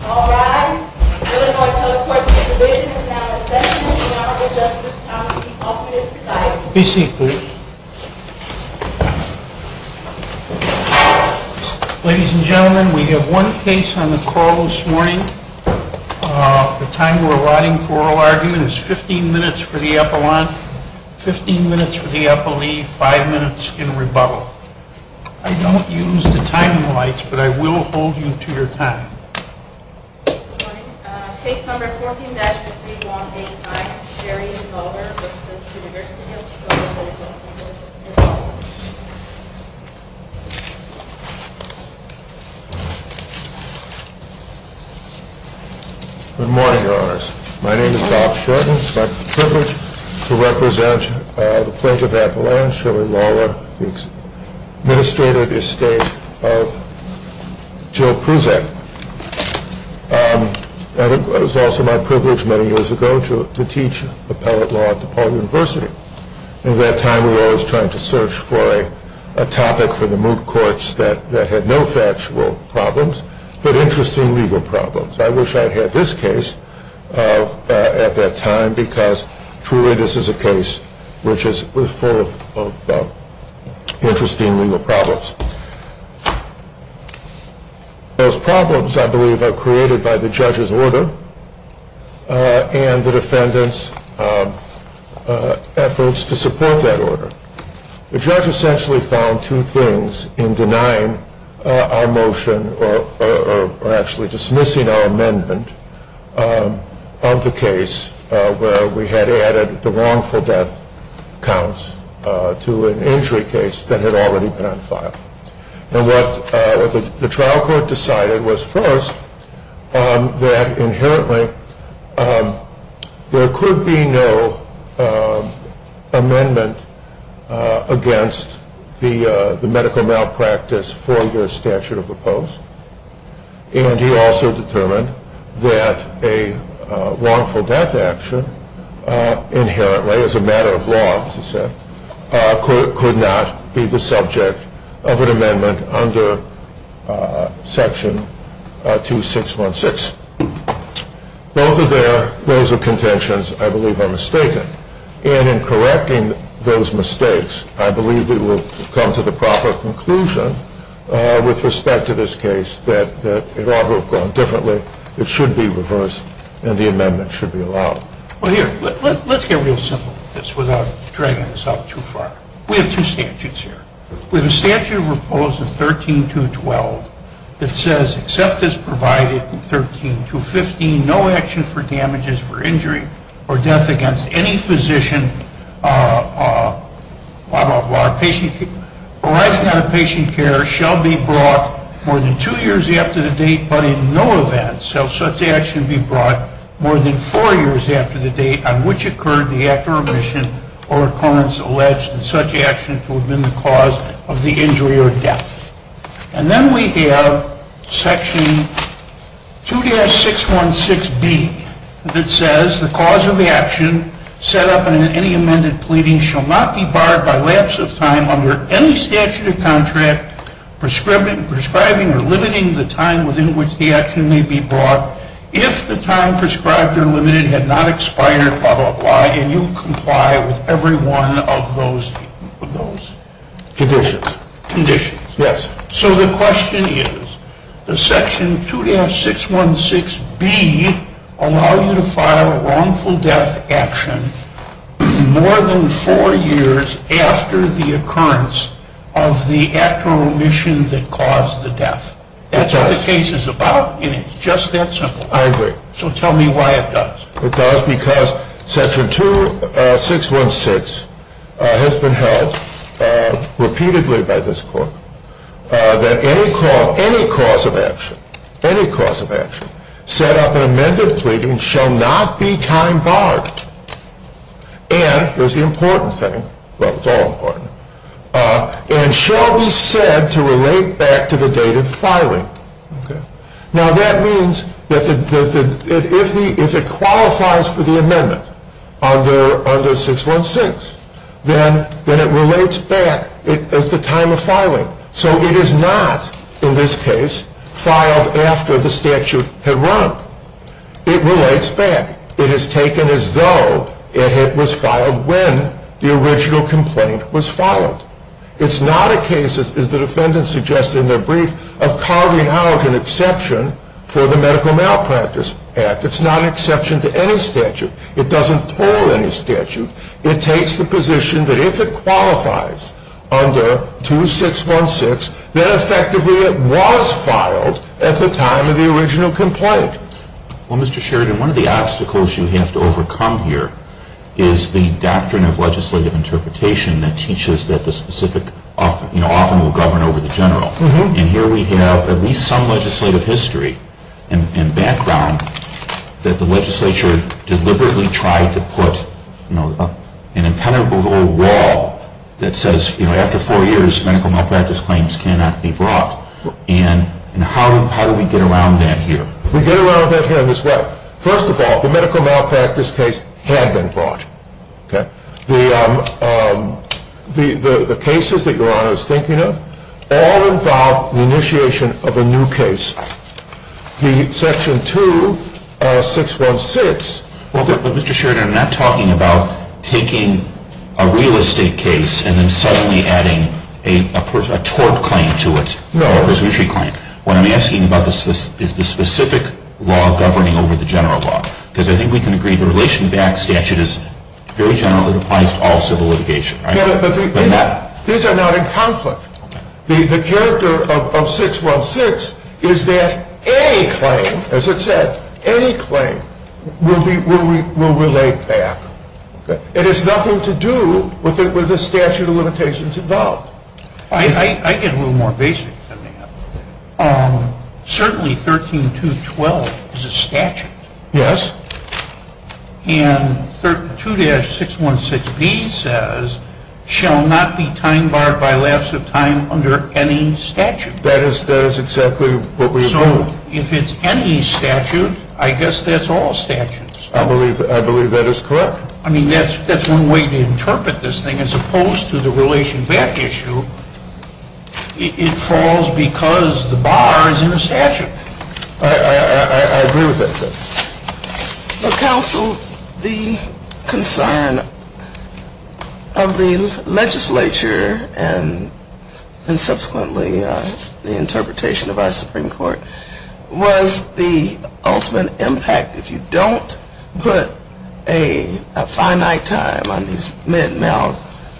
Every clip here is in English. Ladies and gentlemen, we have one case on the call this morning. The time we are allotting for oral argument is 15 minutes for the epaulant, 15 minutes for the epaulet, 5 minutes in rebuttal. I don't use the timing lights, but I will hold you to your time. Case number 14-3185, Sherry Lawler v. University of Chicago Medical Center Good morning, Your Honors. My name is Bob Shorten. It is my privilege to represent the Plaintiff of Appalachia, Sherry Lawler, the Administrator of the Estate of Jill Prusak. It was also my privilege many years ago to teach appellate law at DePaul University. At that time, we were always trying to search for a topic for the moot courts that had no factual problems, but interesting legal problems. I wish I had had this case at that time, because truly this is a case which is full of interesting legal problems. Those problems, I believe, are created by the judge's order and the defendant's efforts to support that order. The judge essentially found two things in denying our motion or actually dismissing our amendment of the case where we had added the wrongful death counts to an injury case that had already been on file. What the trial court decided was first that inherently there could be no amendment against the medical malpractice for your statute of oppose. And he also determined that a wrongful death action inherently as a matter of law, as he said, could not be the subject of an amendment under Section 2616. Both of their modes of contentions, I believe, are mistaken. And in correcting those mistakes, I believe we will come to the proper conclusion with respect to this case that it ought to have gone differently. It should be reversed, and the amendment should be allowed. Well, here, let's get real simple with this without dragging this out too far. We have two statutes here. We have a statute of oppose of 13.212 that says, except as provided in 13.215, no action for damages for injury or death against any physician, blah, blah, blah, arising out of patient care shall be brought more than two years after the date, but in no event shall such action be brought more than four years after the date on which occurred the act of remission or occurrence alleged in such action to have been the cause of injury or death. And then we have Section 2-616B that says the cause of action set up in any amended pleading shall not be barred by lapse of time under any statute of contract prescribing or limiting the time within which the action may be brought if the time prescribed or limited had not expired, blah, blah, blah, and you comply with every one of those conditions. Conditions? Yes. So the question is, does Section 2-616B allow you to file a wrongful death action more than four years after the occurrence of the act or remission that caused the death? It does. That's what the case is about, and it's just that simple. I agree. So tell me why it does. It does because Section 2-616 has been held repeatedly by this Court that any cause of action, any cause of action set up in amended pleading shall not be time barred and, here's the important thing, well, it's all important, and shall be said to relate back to the date of filing. Now, that means that if it qualifies for the amendment under 616, then it relates back at the time of filing. So it is not, in this case, filed after the statute had run. It relates back. It is taken as though it was filed when the original complaint was filed. It's not a case, as the defendant suggested in their brief, of carving out an exception for the Medical Malpractice Act. It's not an exception to any statute. It doesn't toll any statute. It takes the position that if it qualifies under 2-616, then effectively it was filed at the time of the original complaint. Well, Mr. Sheridan, one of the obstacles you have to overcome here is the doctrine of legislative interpretation that teaches that the specific, you know, often will govern over the general. And here we have at least some legislative history and background that the legislature deliberately tried to put, you know, an impenetrable wall that says, you know, after four years, medical malpractice claims cannot be brought. And how do we get around that here? We get around that here in this way. First of all, the medical malpractice case had been brought. Okay. The cases that Your Honor is thinking of all involve the initiation of a new case. The Section 2-616. Well, Mr. Sheridan, I'm not talking about taking a real estate case and then suddenly adding a tort claim to it. No. Or a presumptory claim. What I'm asking about is the specific law governing over the general law. Because I think we can agree the relation to the Act's statute is very general. It applies to all civil litigation. These are not in conflict. The character of 616 is that any claim, as it said, any claim will relate back. It has nothing to do with the statute of limitations involved. I get a little more basic than that. Certainly 13212 is a statute. Yes. And 2-616B says, shall not be time barred by lapse of time under any statute. That is exactly what we approve. So if it's any statute, I guess that's all statutes. I believe that is correct. I mean, that's one way to interpret this thing as opposed to the relation back issue. It falls because the bar is in the statute. I agree with that. Counsel, the concern of the legislature and subsequently the interpretation of our Supreme Court was the ultimate impact. If you don't put a finite time on these men and male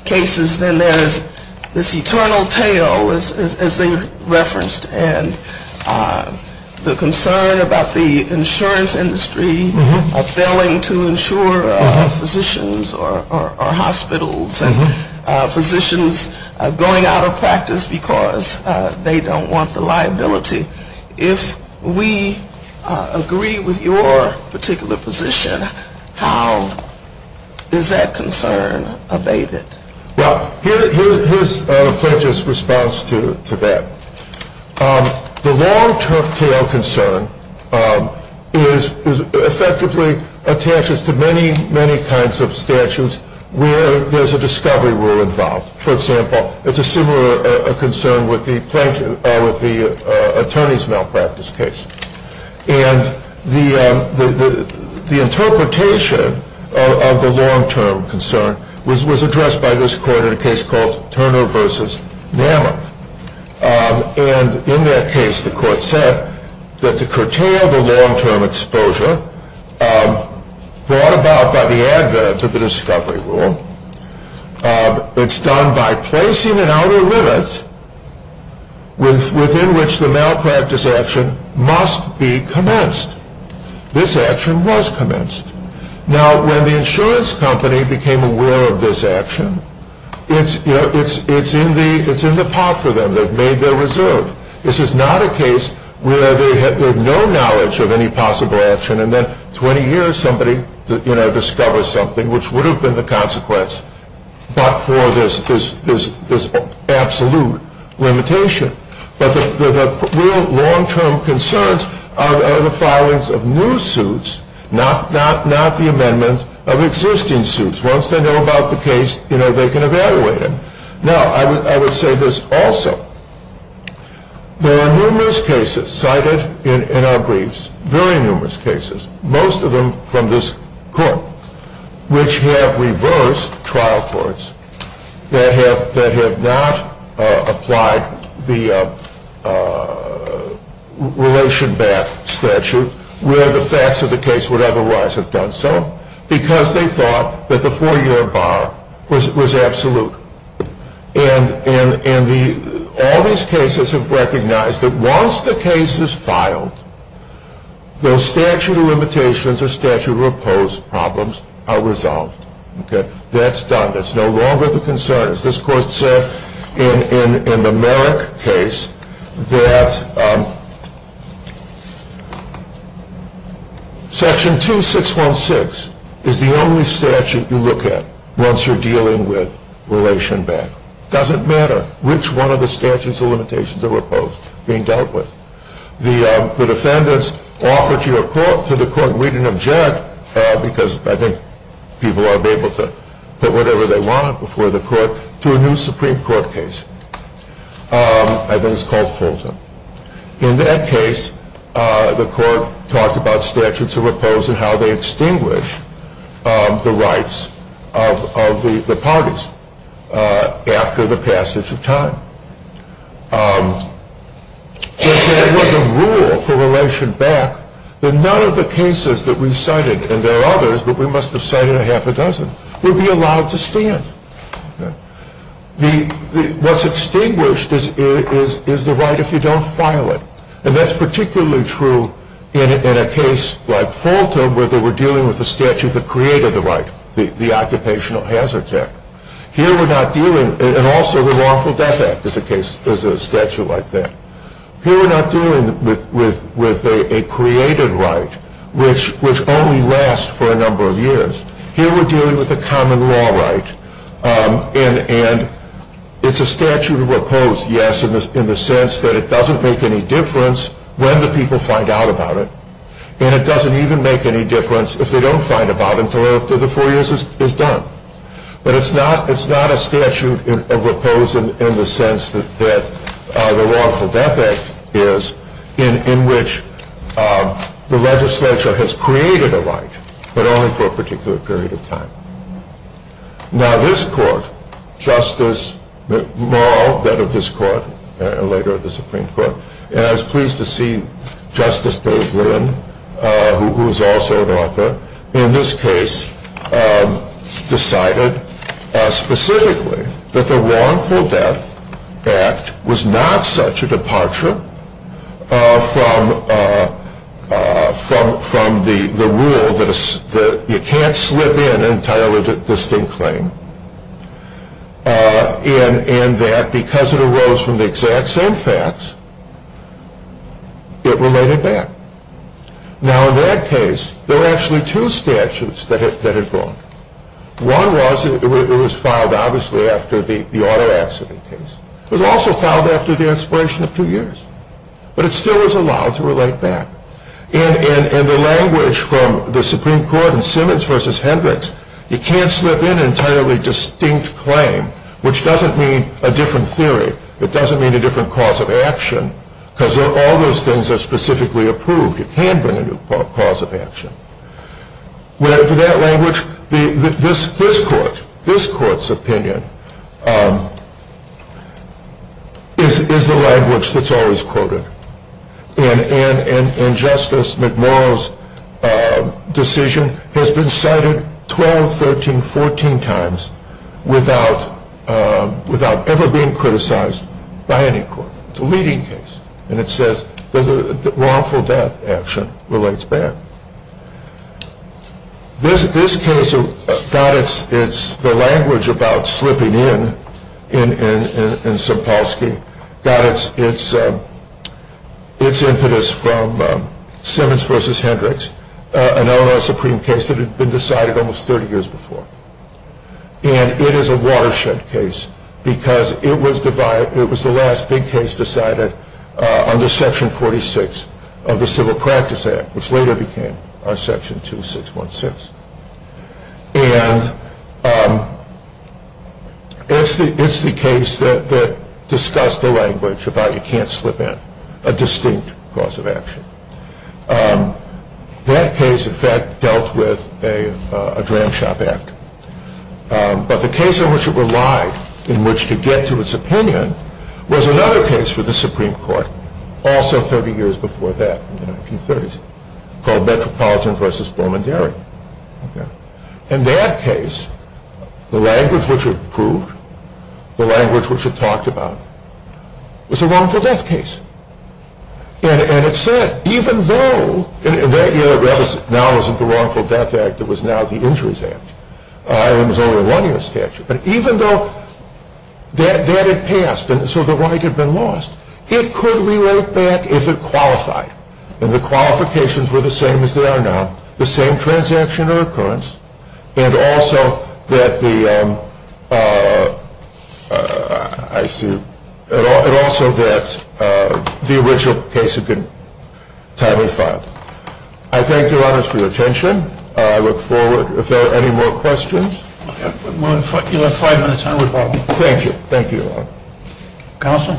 cases, then there's this eternal tale, as they referenced, and the concern about the insurance industry failing to insure physicians or hospitals and physicians going out of practice because they don't want the liability. If we agree with your particular position, how is that concern abated? Well, here's Pledge's response to that. The long-term tale concern is effectively attached to many, many kinds of statutes where there's a discovery rule involved. For example, it's a similar concern with the attorneys' malpractice case. And the interpretation of the long-term concern was addressed by this Court in a case called Turner v. Nama. And in that case, the Court said that to curtail the long-term exposure brought about by the advent of the discovery rule, it's done by placing an outer limit within which the malpractice action must be commenced. This action was commenced. Now, when the insurance company became aware of this action, it's in the pot for them. They've made their reserve. This is not a case where they have no knowledge of any possible action, and then 20 years somebody discovers something, which would have been the consequence but for this absolute limitation. But the real long-term concerns are the filings of new suits, not the amendment of existing suits. Once they know about the case, they can evaluate it. Now, I would say this also. There are numerous cases cited in our briefs, very numerous cases, most of them from this Court, which have reversed trial courts that have not applied the relation-back statute, where the facts of the case would otherwise have done so, because they thought that the four-year bar was absolute. And all these cases have recognized that once the case is filed, those statute of limitations or statute of opposed problems are resolved. That's done. That's no longer the concern, as this Court said in the Merrick case, that Section 2616 is the only statute you look at once you're dealing with relation-back. It doesn't matter which one of the statutes of limitations or opposed being dealt with. The defendants offer to the Court, read and object, because I think people are able to put whatever they want before the Court, to a new Supreme Court case. I think it's called Fulton. In that case, the Court talked about statutes of opposed and how they extinguish the rights of the parties after the passage of time. But there was a rule for relation-back that none of the cases that we cited, and there are others, but we must have cited a half a dozen, would be allowed to stand. What's extinguished is the right if you don't file it. And that's particularly true in a case like Fulton where they were dealing with a statute that created the right, the Occupational Hazards Act. Here we're not dealing, and also the Lawful Death Act is a statute like that. Here we're not dealing with a created right, which only lasts for a number of years. Here we're dealing with a common law right, and it's a statute of opposed, yes, in the sense that it doesn't make any difference when the people find out about it, and it doesn't even make any difference if they don't find out about it until after the four years is done. But it's not a statute of opposed in the sense that the Lawful Death Act is, in which the legislature has created a right, but only for a particular period of time. Now this court, Justice McMaul, then of this court, and later of the Supreme Court, and I was pleased to see Justice Day-Glynn, who is also an author, in this case decided specifically that the Lawful Death Act was not such a departure from the rule that you can't slip in an entirely distinct claim, and that because it arose from the exact same facts, it related back. Now in that case, there were actually two statutes that had gone. One was, it was filed obviously after the auto accident case. It was also filed after the expiration of two years. But it still was allowed to relate back. And the language from the Supreme Court in Simmons v. Hendricks, you can't slip in an entirely distinct claim, which doesn't mean a different theory. It doesn't mean a different cause of action, because all those things are specifically approved. You can't bring a new cause of action. For that language, this court's opinion is the language that's always quoted. And Justice McMaul's decision has been cited 12, 13, 14 times without ever being criticized by any court. It's a leading case. And it says the Lawful Death Action relates back. This case, the language about slipping in, in Sapolsky, got its impetus from Simmons v. Hendricks, an Illinois Supreme case that had been decided almost 30 years before. And it is a watershed case, because it was the last big case decided under Section 46 of the Civil Practice Act, which later became our Section 2616. And it's the case that discussed the language about you can't slip in a distinct cause of action. That case, in fact, dealt with a Dram Shop Act. But the case in which it relied, in which to get to its opinion, was another case for the Supreme Court, also 30 years before that, in the 1930s, called Metropolitan v. Beaumont-Darien. In that case, the language which was approved, the language which was talked about, was a wrongful death case. And it said, even though that now wasn't the Wrongful Death Act, it was now the Injuries Act. It was only a one-year statute. But even though that had passed, and so the right had been lost, it could relate back if it qualified. And the qualifications were the same as they are now, the same transaction or occurrence, and also that the original case had been timely filed. I thank you, Your Honors, for your attention. I look forward, if there are any more questions. You have five minutes. Thank you. Thank you, Your Honor.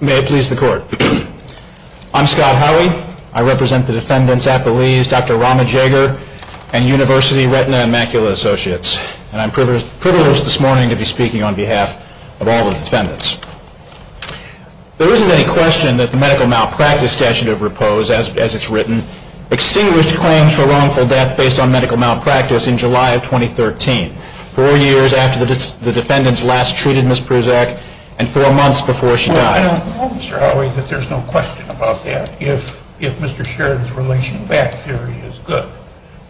May it please the Court. I'm Scott Howey. I represent the defendants' apologies, Dr. Rama Jaeger and University Retina and Macula Associates. And I'm privileged this morning to be speaking on behalf of all the defendants. There isn't any question that the medical malpractice statute of repose, as it's written, extinguished claims for wrongful death based on medical malpractice in July of 2013, four years after the defendants last treated Ms. Prusak, and four months before she died. I don't know, Mr. Howey, that there's no question about that if Mr. Sheridan's relational back theory is good.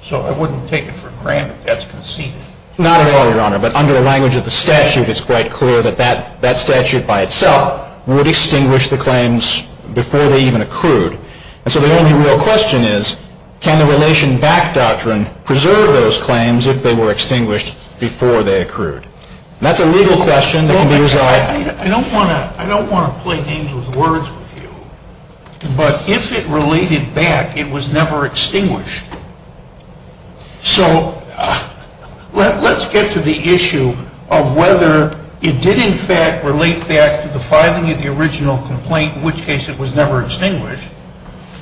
So I wouldn't take it for granted that's conceded. Not at all, Your Honor, but under the language of the statute, it's quite clear that that statute by itself would extinguish the claims before they even accrued. And so the only real question is, can the relation back doctrine preserve those claims if they were extinguished before they accrued? And that's a legal question that can be resolved. I don't want to play games with words with you, but if it related back, it was never extinguished. So let's get to the issue of whether it did in fact relate back to the filing of the original complaint, in which case it was never extinguished,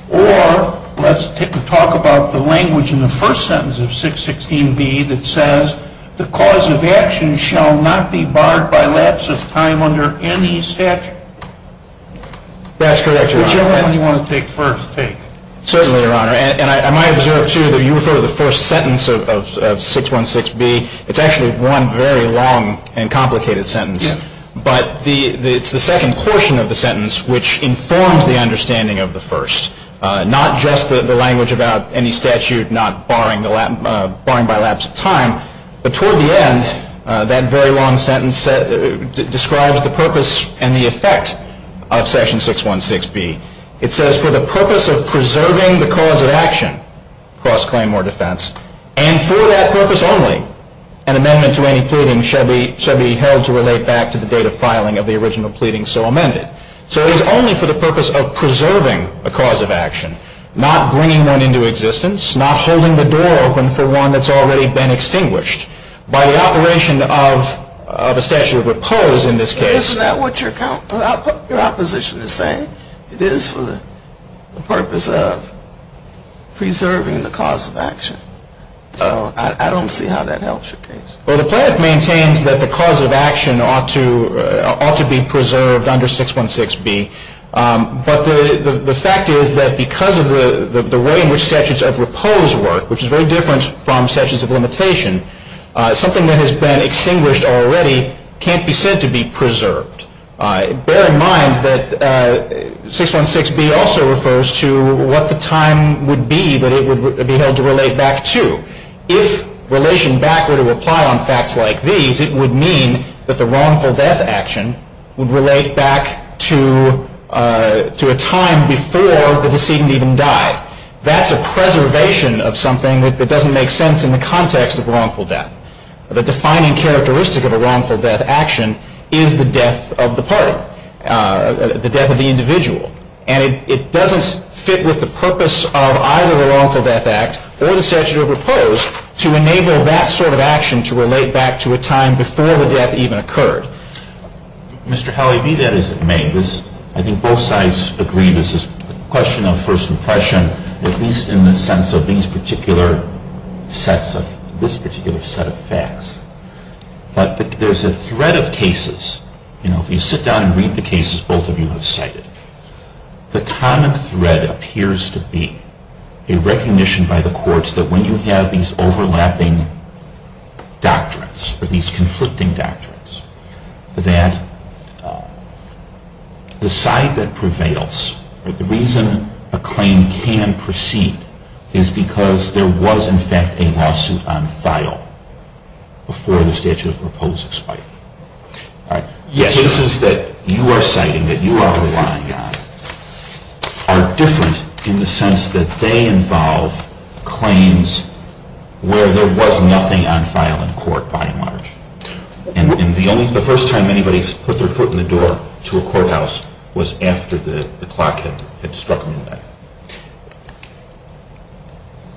or let's talk about the language in the first sentence of 616B that says the cause of action shall not be barred by lapse of time under any statute. That's correct, Your Honor. Whichever one you want to take first, take. Certainly, Your Honor. And I might observe, too, that you refer to the first sentence of 616B. It's actually one very long and complicated sentence. Yeah. But it's the second portion of the sentence which informs the understanding of the first, not just the language about any statute not barring by lapse of time, but toward the end, that very long sentence describes the purpose and the effect of section 616B. It says for the purpose of preserving the cause of action, cross-claim or defense, and for that purpose only, an amendment to any pleading shall be held to relate back to the date of filing of the original pleading so amended. So it is only for the purpose of preserving a cause of action, not bringing one into existence, not holding the door open for one that's already been extinguished. By the operation of a statute of repose in this case. Isn't that what your opposition is saying? It is for the purpose of preserving the cause of action. So I don't see how that helps your case. Well, the plaintiff maintains that the cause of action ought to be preserved under 616B. But the fact is that because of the way in which statutes of repose work, which is very different from statutes of limitation, something that has been extinguished already can't be said to be preserved. Bear in mind that 616B also refers to what the time would be that it would be held to relate back to. If relation back were to apply on facts like these, it would mean that the wrongful death action would relate back to a time before the decedent even died. That's a preservation of something that doesn't make sense in the context of wrongful death. The defining characteristic of a wrongful death action is the death of the party, the death of the individual. And it doesn't fit with the purpose of either the wrongful death act or the statute of repose to enable that sort of action to relate back to a time before the death even occurred. Mr. Hallie, be that as it may, I think both sides agree this is a question of first impression, at least in the sense of this particular set of facts. But there's a thread of cases. If you sit down and read the cases both of you have cited, the common thread appears to be a recognition by the courts that when you have these overlapping doctrines or these conflicting doctrines, that the side that prevails, the reason a claim can proceed is because there was in fact a lawsuit on file before the statute of repose expired. Cases that you are citing, that you are relying on, are different in the sense that they involve claims where there was nothing on file in court by and large. And the first time anybody's put their foot in the door to a courthouse was after the clock had struck midnight.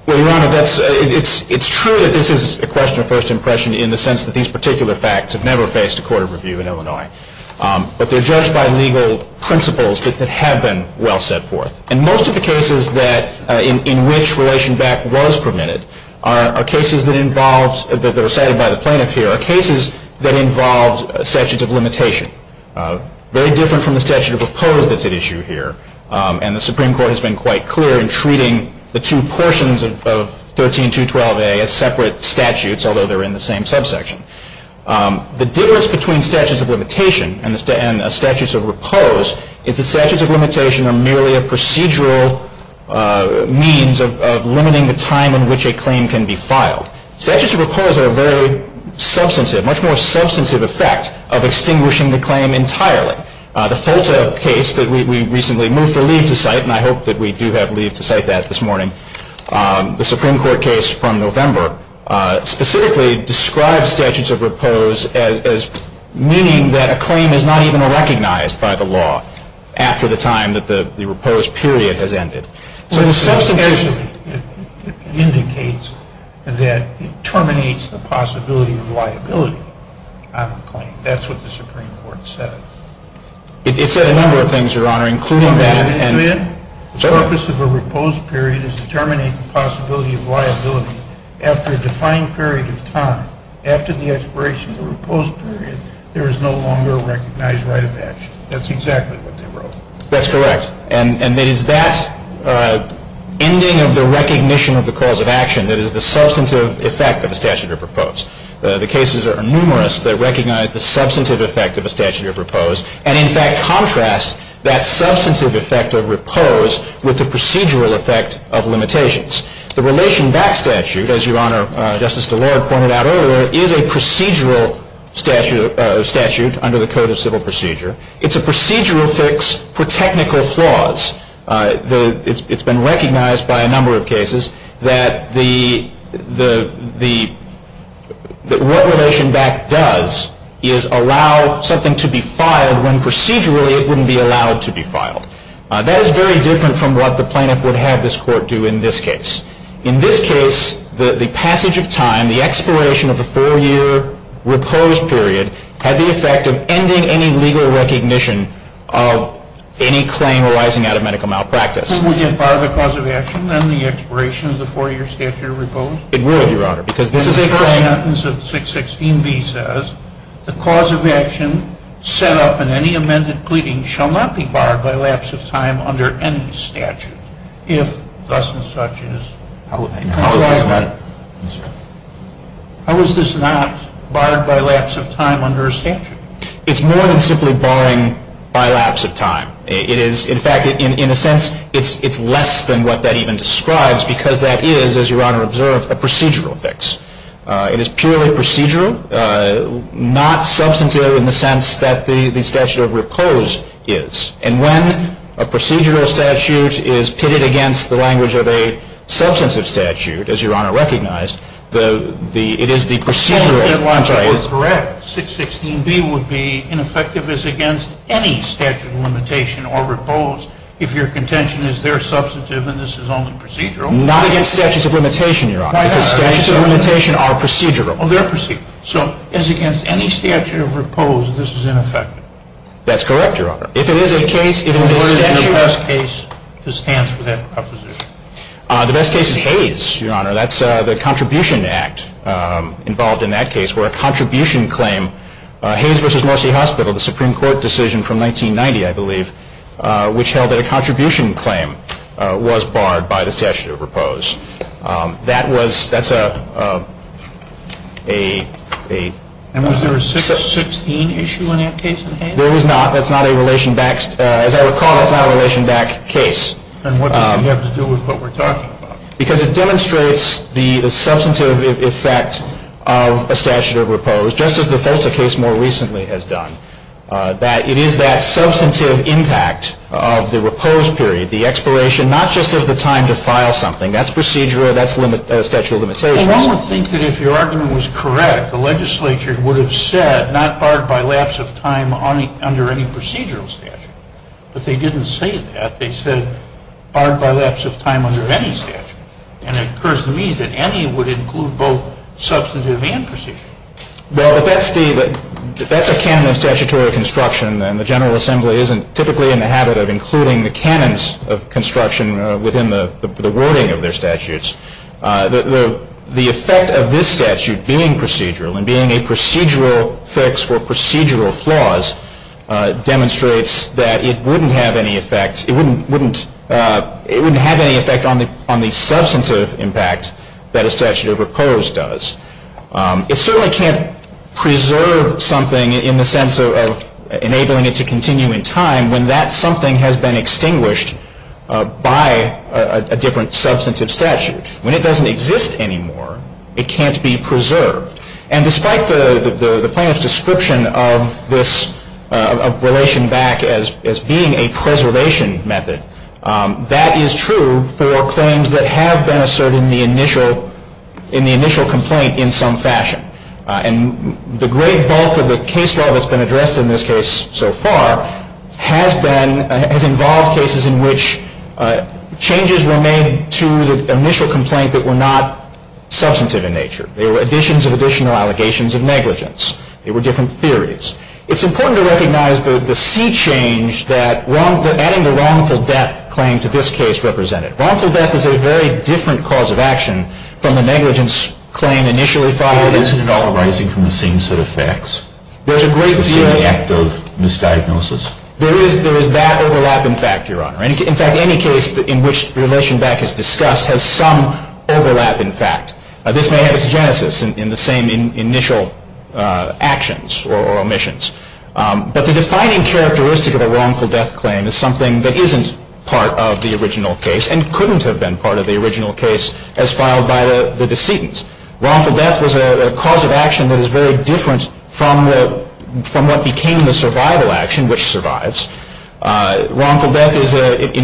Well, Your Honor, it's true that this is a question of first impression in the sense that these particular facts have never faced a court of review in Illinois. But they're judged by legal principles that have been well set forth. And most of the cases in which relation back was permitted are cases that involved, that were cited by the plaintiff here, are cases that involved a statute of limitation. Very different from the statute of repose that's at issue here. And the Supreme Court has been quite clear in treating the two portions of 13212A as separate statutes, although they're in the same subsection. The difference between statutes of limitation and statutes of repose is that statutes of limitation are merely a procedural means of limiting the time in which a claim can be filed. Statutes of repose have a very substantive, much more substantive effect of extinguishing the claim entirely. The FOLTA case that we recently moved for leave to cite, and I hope that we do have leave to cite that this morning, the Supreme Court case from November, specifically described statutes of repose as meaning that a claim is not even recognized by the law after the time that the repose period has ended. Well, it's substantive. That's what the Supreme Court said. It said a number of things, Your Honor, including that and The purpose of a repose period is to determine a possibility of liability after a defined period of time. After the expiration of the repose period, there is no longer a recognized right of action. That's exactly what they wrote. That's correct. And it is that ending of the recognition of the cause of action that is the substantive effect of a statute of repose. The cases are numerous that recognize the substantive effect of a statute of repose and, in fact, contrast that substantive effect of repose with the procedural effect of limitations. The Relation Back Statute, as Your Honor, Justice DeLorde pointed out earlier, is a procedural statute under the Code of Civil Procedure. It's a procedural fix for technical flaws. It's been recognized by a number of cases that what Relation Back does is allow something to be filed when procedurally it wouldn't be allowed to be filed. That is very different from what the plaintiff would have this court do in this case. In this case, the passage of time, the expiration of the four-year repose period had the effect of ending any legal recognition of any claim arising out of medical malpractice. Wouldn't it bar the cause of action and the expiration of the four-year statute of repose? It would, Your Honor, because this is a claim. The first sentence of 616B says, The cause of action set up in any amended pleading shall not be barred by lapse of time under any statute. If thus and such is. How is this not? How is this not barred by lapse of time under a statute? It's more than simply barring by lapse of time. It is, in fact, in a sense, it's less than what that even describes because that is, as Your Honor observed, a procedural fix. It is purely procedural, not substantive in the sense that the statute of repose is. And when a procedural statute is pitted against the language of a substantive statute, as Your Honor recognized, it is the procedural. Correct. 616B would be ineffective as against any statute of limitation or repose if your contention is they're substantive and this is only procedural. Not against statutes of limitation, Your Honor, because statutes of limitation are procedural. Oh, they're procedural. So as against any statute of repose, this is ineffective. That's correct, Your Honor. If it is a case, it is a statute. What is the best case that stands for that proposition? The best case is Hayes, Your Honor. That's the Contribution Act involved in that case where a contribution claim, Hayes v. Mercy Hospital, the Supreme Court decision from 1990, I believe, which held that a contribution claim was barred by the statute of repose. That was, that's a, a, a. And was there a 616 issue in that case in Hayes? There was not. That's not a relation back, as I recall, that's not a relation back case. Then what does it have to do with what we're talking about? Because it demonstrates the substantive effect of a statute of repose, just as the Folta case more recently has done, that it is that substantive impact of the repose period, the expiration, not just of the time to file something, that's procedural, that's statute of limitations. And one would think that if your argument was correct, the legislature would have said not barred by lapse of time under any procedural statute. But they didn't say that. They said barred by lapse of time under any statute. And it occurs to me that any would include both substantive and procedural. Well, that's the, that's a canon of statutory construction, and the General Assembly isn't typically in the habit of including the canons of construction within the wording of their statutes. The effect of this statute being procedural, and being a procedural fix for procedural flaws, demonstrates that it wouldn't have any effect, it wouldn't have any effect on the substantive impact that a statute of repose does. It certainly can't preserve something in the sense of enabling it to continue in time when that something has been extinguished by a different substantive statute. When it doesn't exist anymore, it can't be preserved. And despite the plaintiff's description of this, of relation back as being a preservation method, that is true for claims that have been asserted in the initial, in the initial complaint in some fashion. And the great bulk of the case law that's been addressed in this case so far has been, has involved cases in which changes were made to the initial complaint that were not substantive in nature. They were additions of additional allegations of negligence. They were different theories. It's important to recognize the sea change that adding the wrongful death claim to this case represented. Wrongful death is a very different cause of action from the negligence claim initially filed. Isn't it all arising from the same set of facts? There's a great deal. The same act of misdiagnosis. There is that overlap in fact, Your Honor. In fact, any case in which relation back is discussed has some overlap in fact. This may have its genesis in the same initial actions or omissions. But the defining characteristic of a wrongful death claim is something that isn't part of the original case and couldn't have been part of the original case as filed by the decedent. Wrongful death was a cause of action that is very different from what became the survival action, which survives. 616B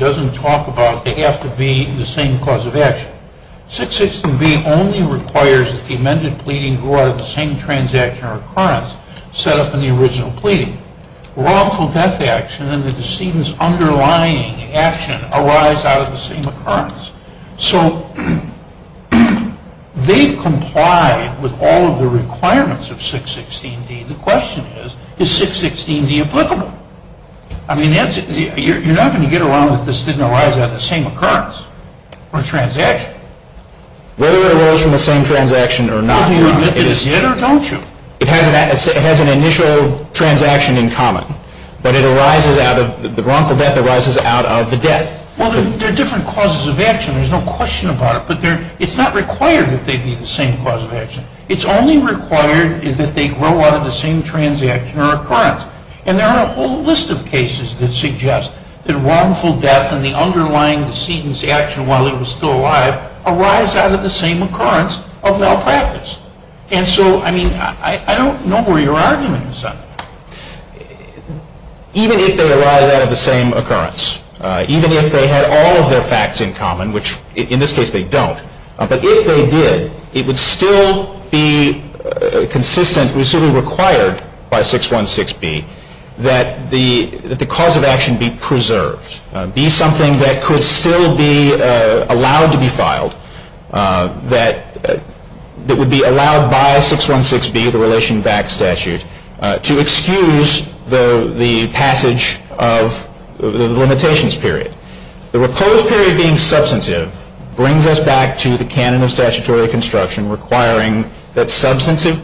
doesn't talk about they have to be the same cause of action. 616B only requires that the amended pleading go out of the same transaction or occurrence set up in the original pleading. Wrongful death action and the decedent's underlying action arise out of the same occurrence. So they've complied with all of the requirements of 616D. The question is, is 616D applicable? I mean, you're not going to get along if this didn't arise out of the same occurrence or transaction. Whether it arose from the same transaction or not, Your Honor, it has an initial transaction in common. But the wrongful death arises out of the death. Well, there are different causes of action. There's no question about it. It's only required that they grow out of the same transaction or occurrence. And there are a whole list of cases that suggest that wrongful death and the underlying decedent's action while it was still alive arise out of the same occurrence of malpractice. And so, I mean, I don't know where your argument is on that. Even if they arise out of the same occurrence, even if they had all of their facts in common, which in this case they don't, but if they did, it would still be consistent, it would still be required by 616B that the cause of action be preserved, be something that could still be allowed to be filed, that would be allowed by 616B, the Relation Back Statute, to excuse the passage of the limitations period. The reposed period being substantive brings us back to the canon of statutory construction requiring that substantive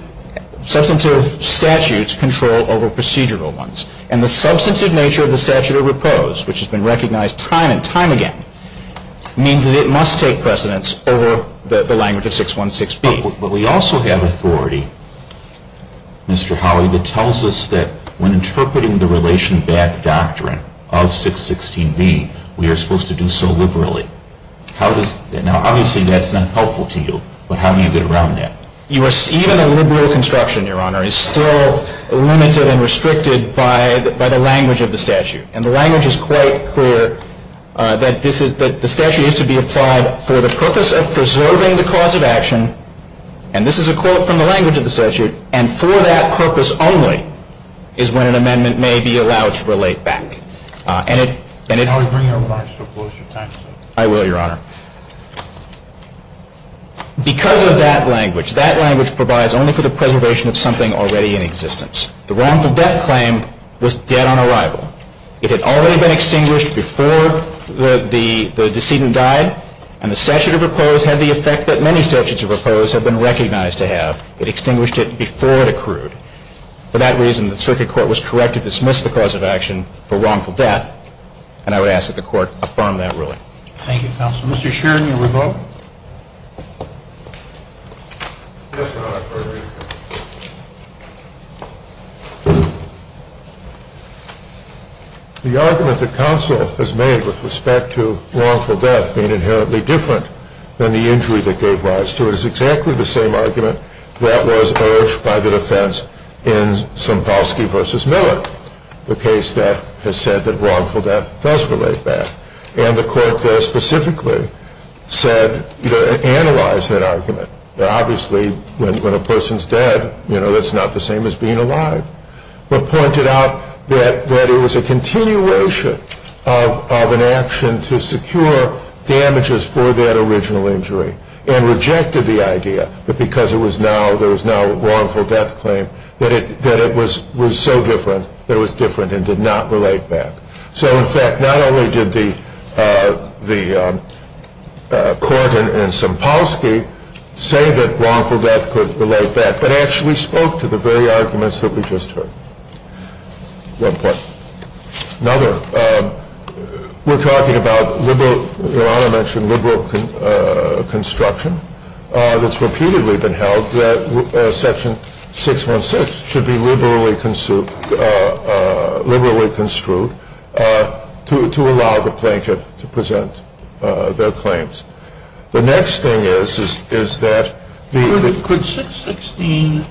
statutes control over procedural ones. And the substantive nature of the statute of repose, which has been recognized time and time again, means that it must take precedence over the language of 616B. But we also have authority, Mr. Howley, that tells us that when interpreting the Relation Back Doctrine of 616B, we are supposed to do so liberally. Now, obviously, that's not helpful to you, but how do you get around that? Even a liberal construction, Your Honor, is still limited and restricted by the language of the statute. And the language is quite clear, that the statute is to be applied for the purpose of preserving the cause of action, and this is a quote from the language of the statute, and for that purpose only is when an amendment may be allowed to relate back. And it... Mr. Howley, bring your remarks to a closer time. I will, Your Honor. Because of that language, that language provides only for the preservation of something already in existence. The wrongful death claim was dead on arrival. It had already been extinguished before the decedent died, and the statute of repose had the effect that many statutes of repose have been recognized to have. It extinguished it before it accrued. For that reason, the Circuit Court was correct to dismiss the cause of action for wrongful death, and I would ask that the Court affirm that ruling. Thank you, counsel. Mr. Sheridan, you may vote. Yes, Your Honor. The argument that counsel has made with respect to wrongful death being inherently different than the injury that gave rise to it is exactly the same argument that was urged by the defense in Sompowski v. Miller, the case that has said that wrongful death does relate back. And the court there specifically said, analyzed that argument. Obviously, when a person's dead, that's not the same as being alive, but pointed out that it was a continuation of an action to secure damages for that original injury and rejected the idea that because there was now a wrongful death claim that it was so different that it was different and did not relate back. So, in fact, not only did the court in Sompowski say that wrongful death could relate back, but actually spoke to the very arguments that we just heard. One point. Another, we're talking about, Your Honor mentioned liberal construction. That's repeatedly been held that Section 616 should be liberally construed to allow the plaintiff to present their claims. The next thing is, is that the Could 616B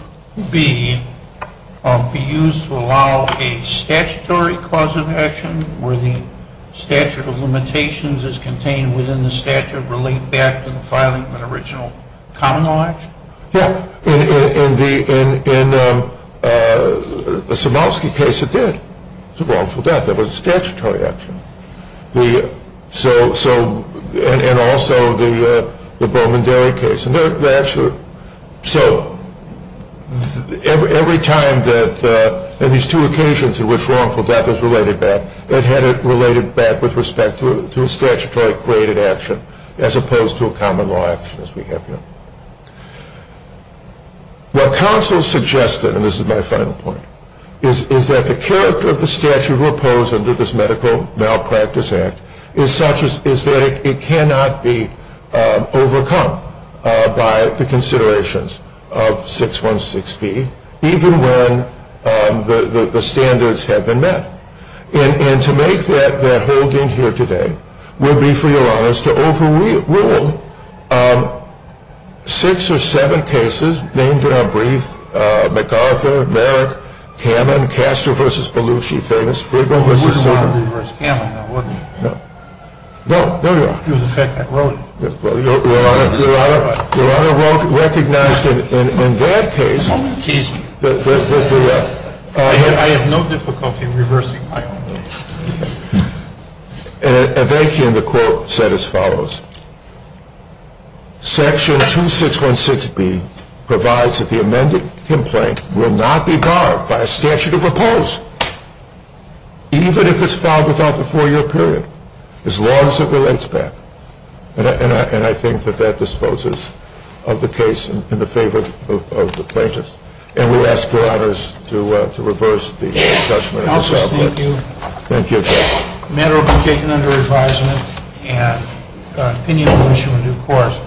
be used to allow a statutory cause of action where the statute of limitations is contained within the statute relating back to the filing of an original common law action? Yeah. In the Sompowski case, it did. It was a wrongful death. It was a statutory action. And also the Bowman-Derry case. So, every time that, in these two occasions in which wrongful death is related back, it had it related back with respect to a statutory created action as opposed to a common law action as we have here. What counsel suggested, and this is my final point, is that the character of the statute proposed under this Medical Malpractice Act is such that it cannot be overcome by the considerations of 616B, even when the standards have been met. And to make that hold in here today would be, for Your Honor, to overrule six or seven cases named in our brief, McArthur, Merrick, Kamen, Caster v. Belushi, famous, Friegel v. Simmer. I mean, you could have reversed Kamen, that wouldn't have effected that. Your Honor, your Honor recognized in that case, I have no difficulty reversing my own. And the court said as follows, Section 2616B provides that the amended complaint will not be barred by a statute of repose, even if it's filed without the four-year period, as long as it relates back. And I think that that disposes of the case in the favor of the plaintiffs. And we ask your Honors to reverse the judgment. Counselors, thank you. Thank you. The matter will be taken under advisement and opinion will issue in due course.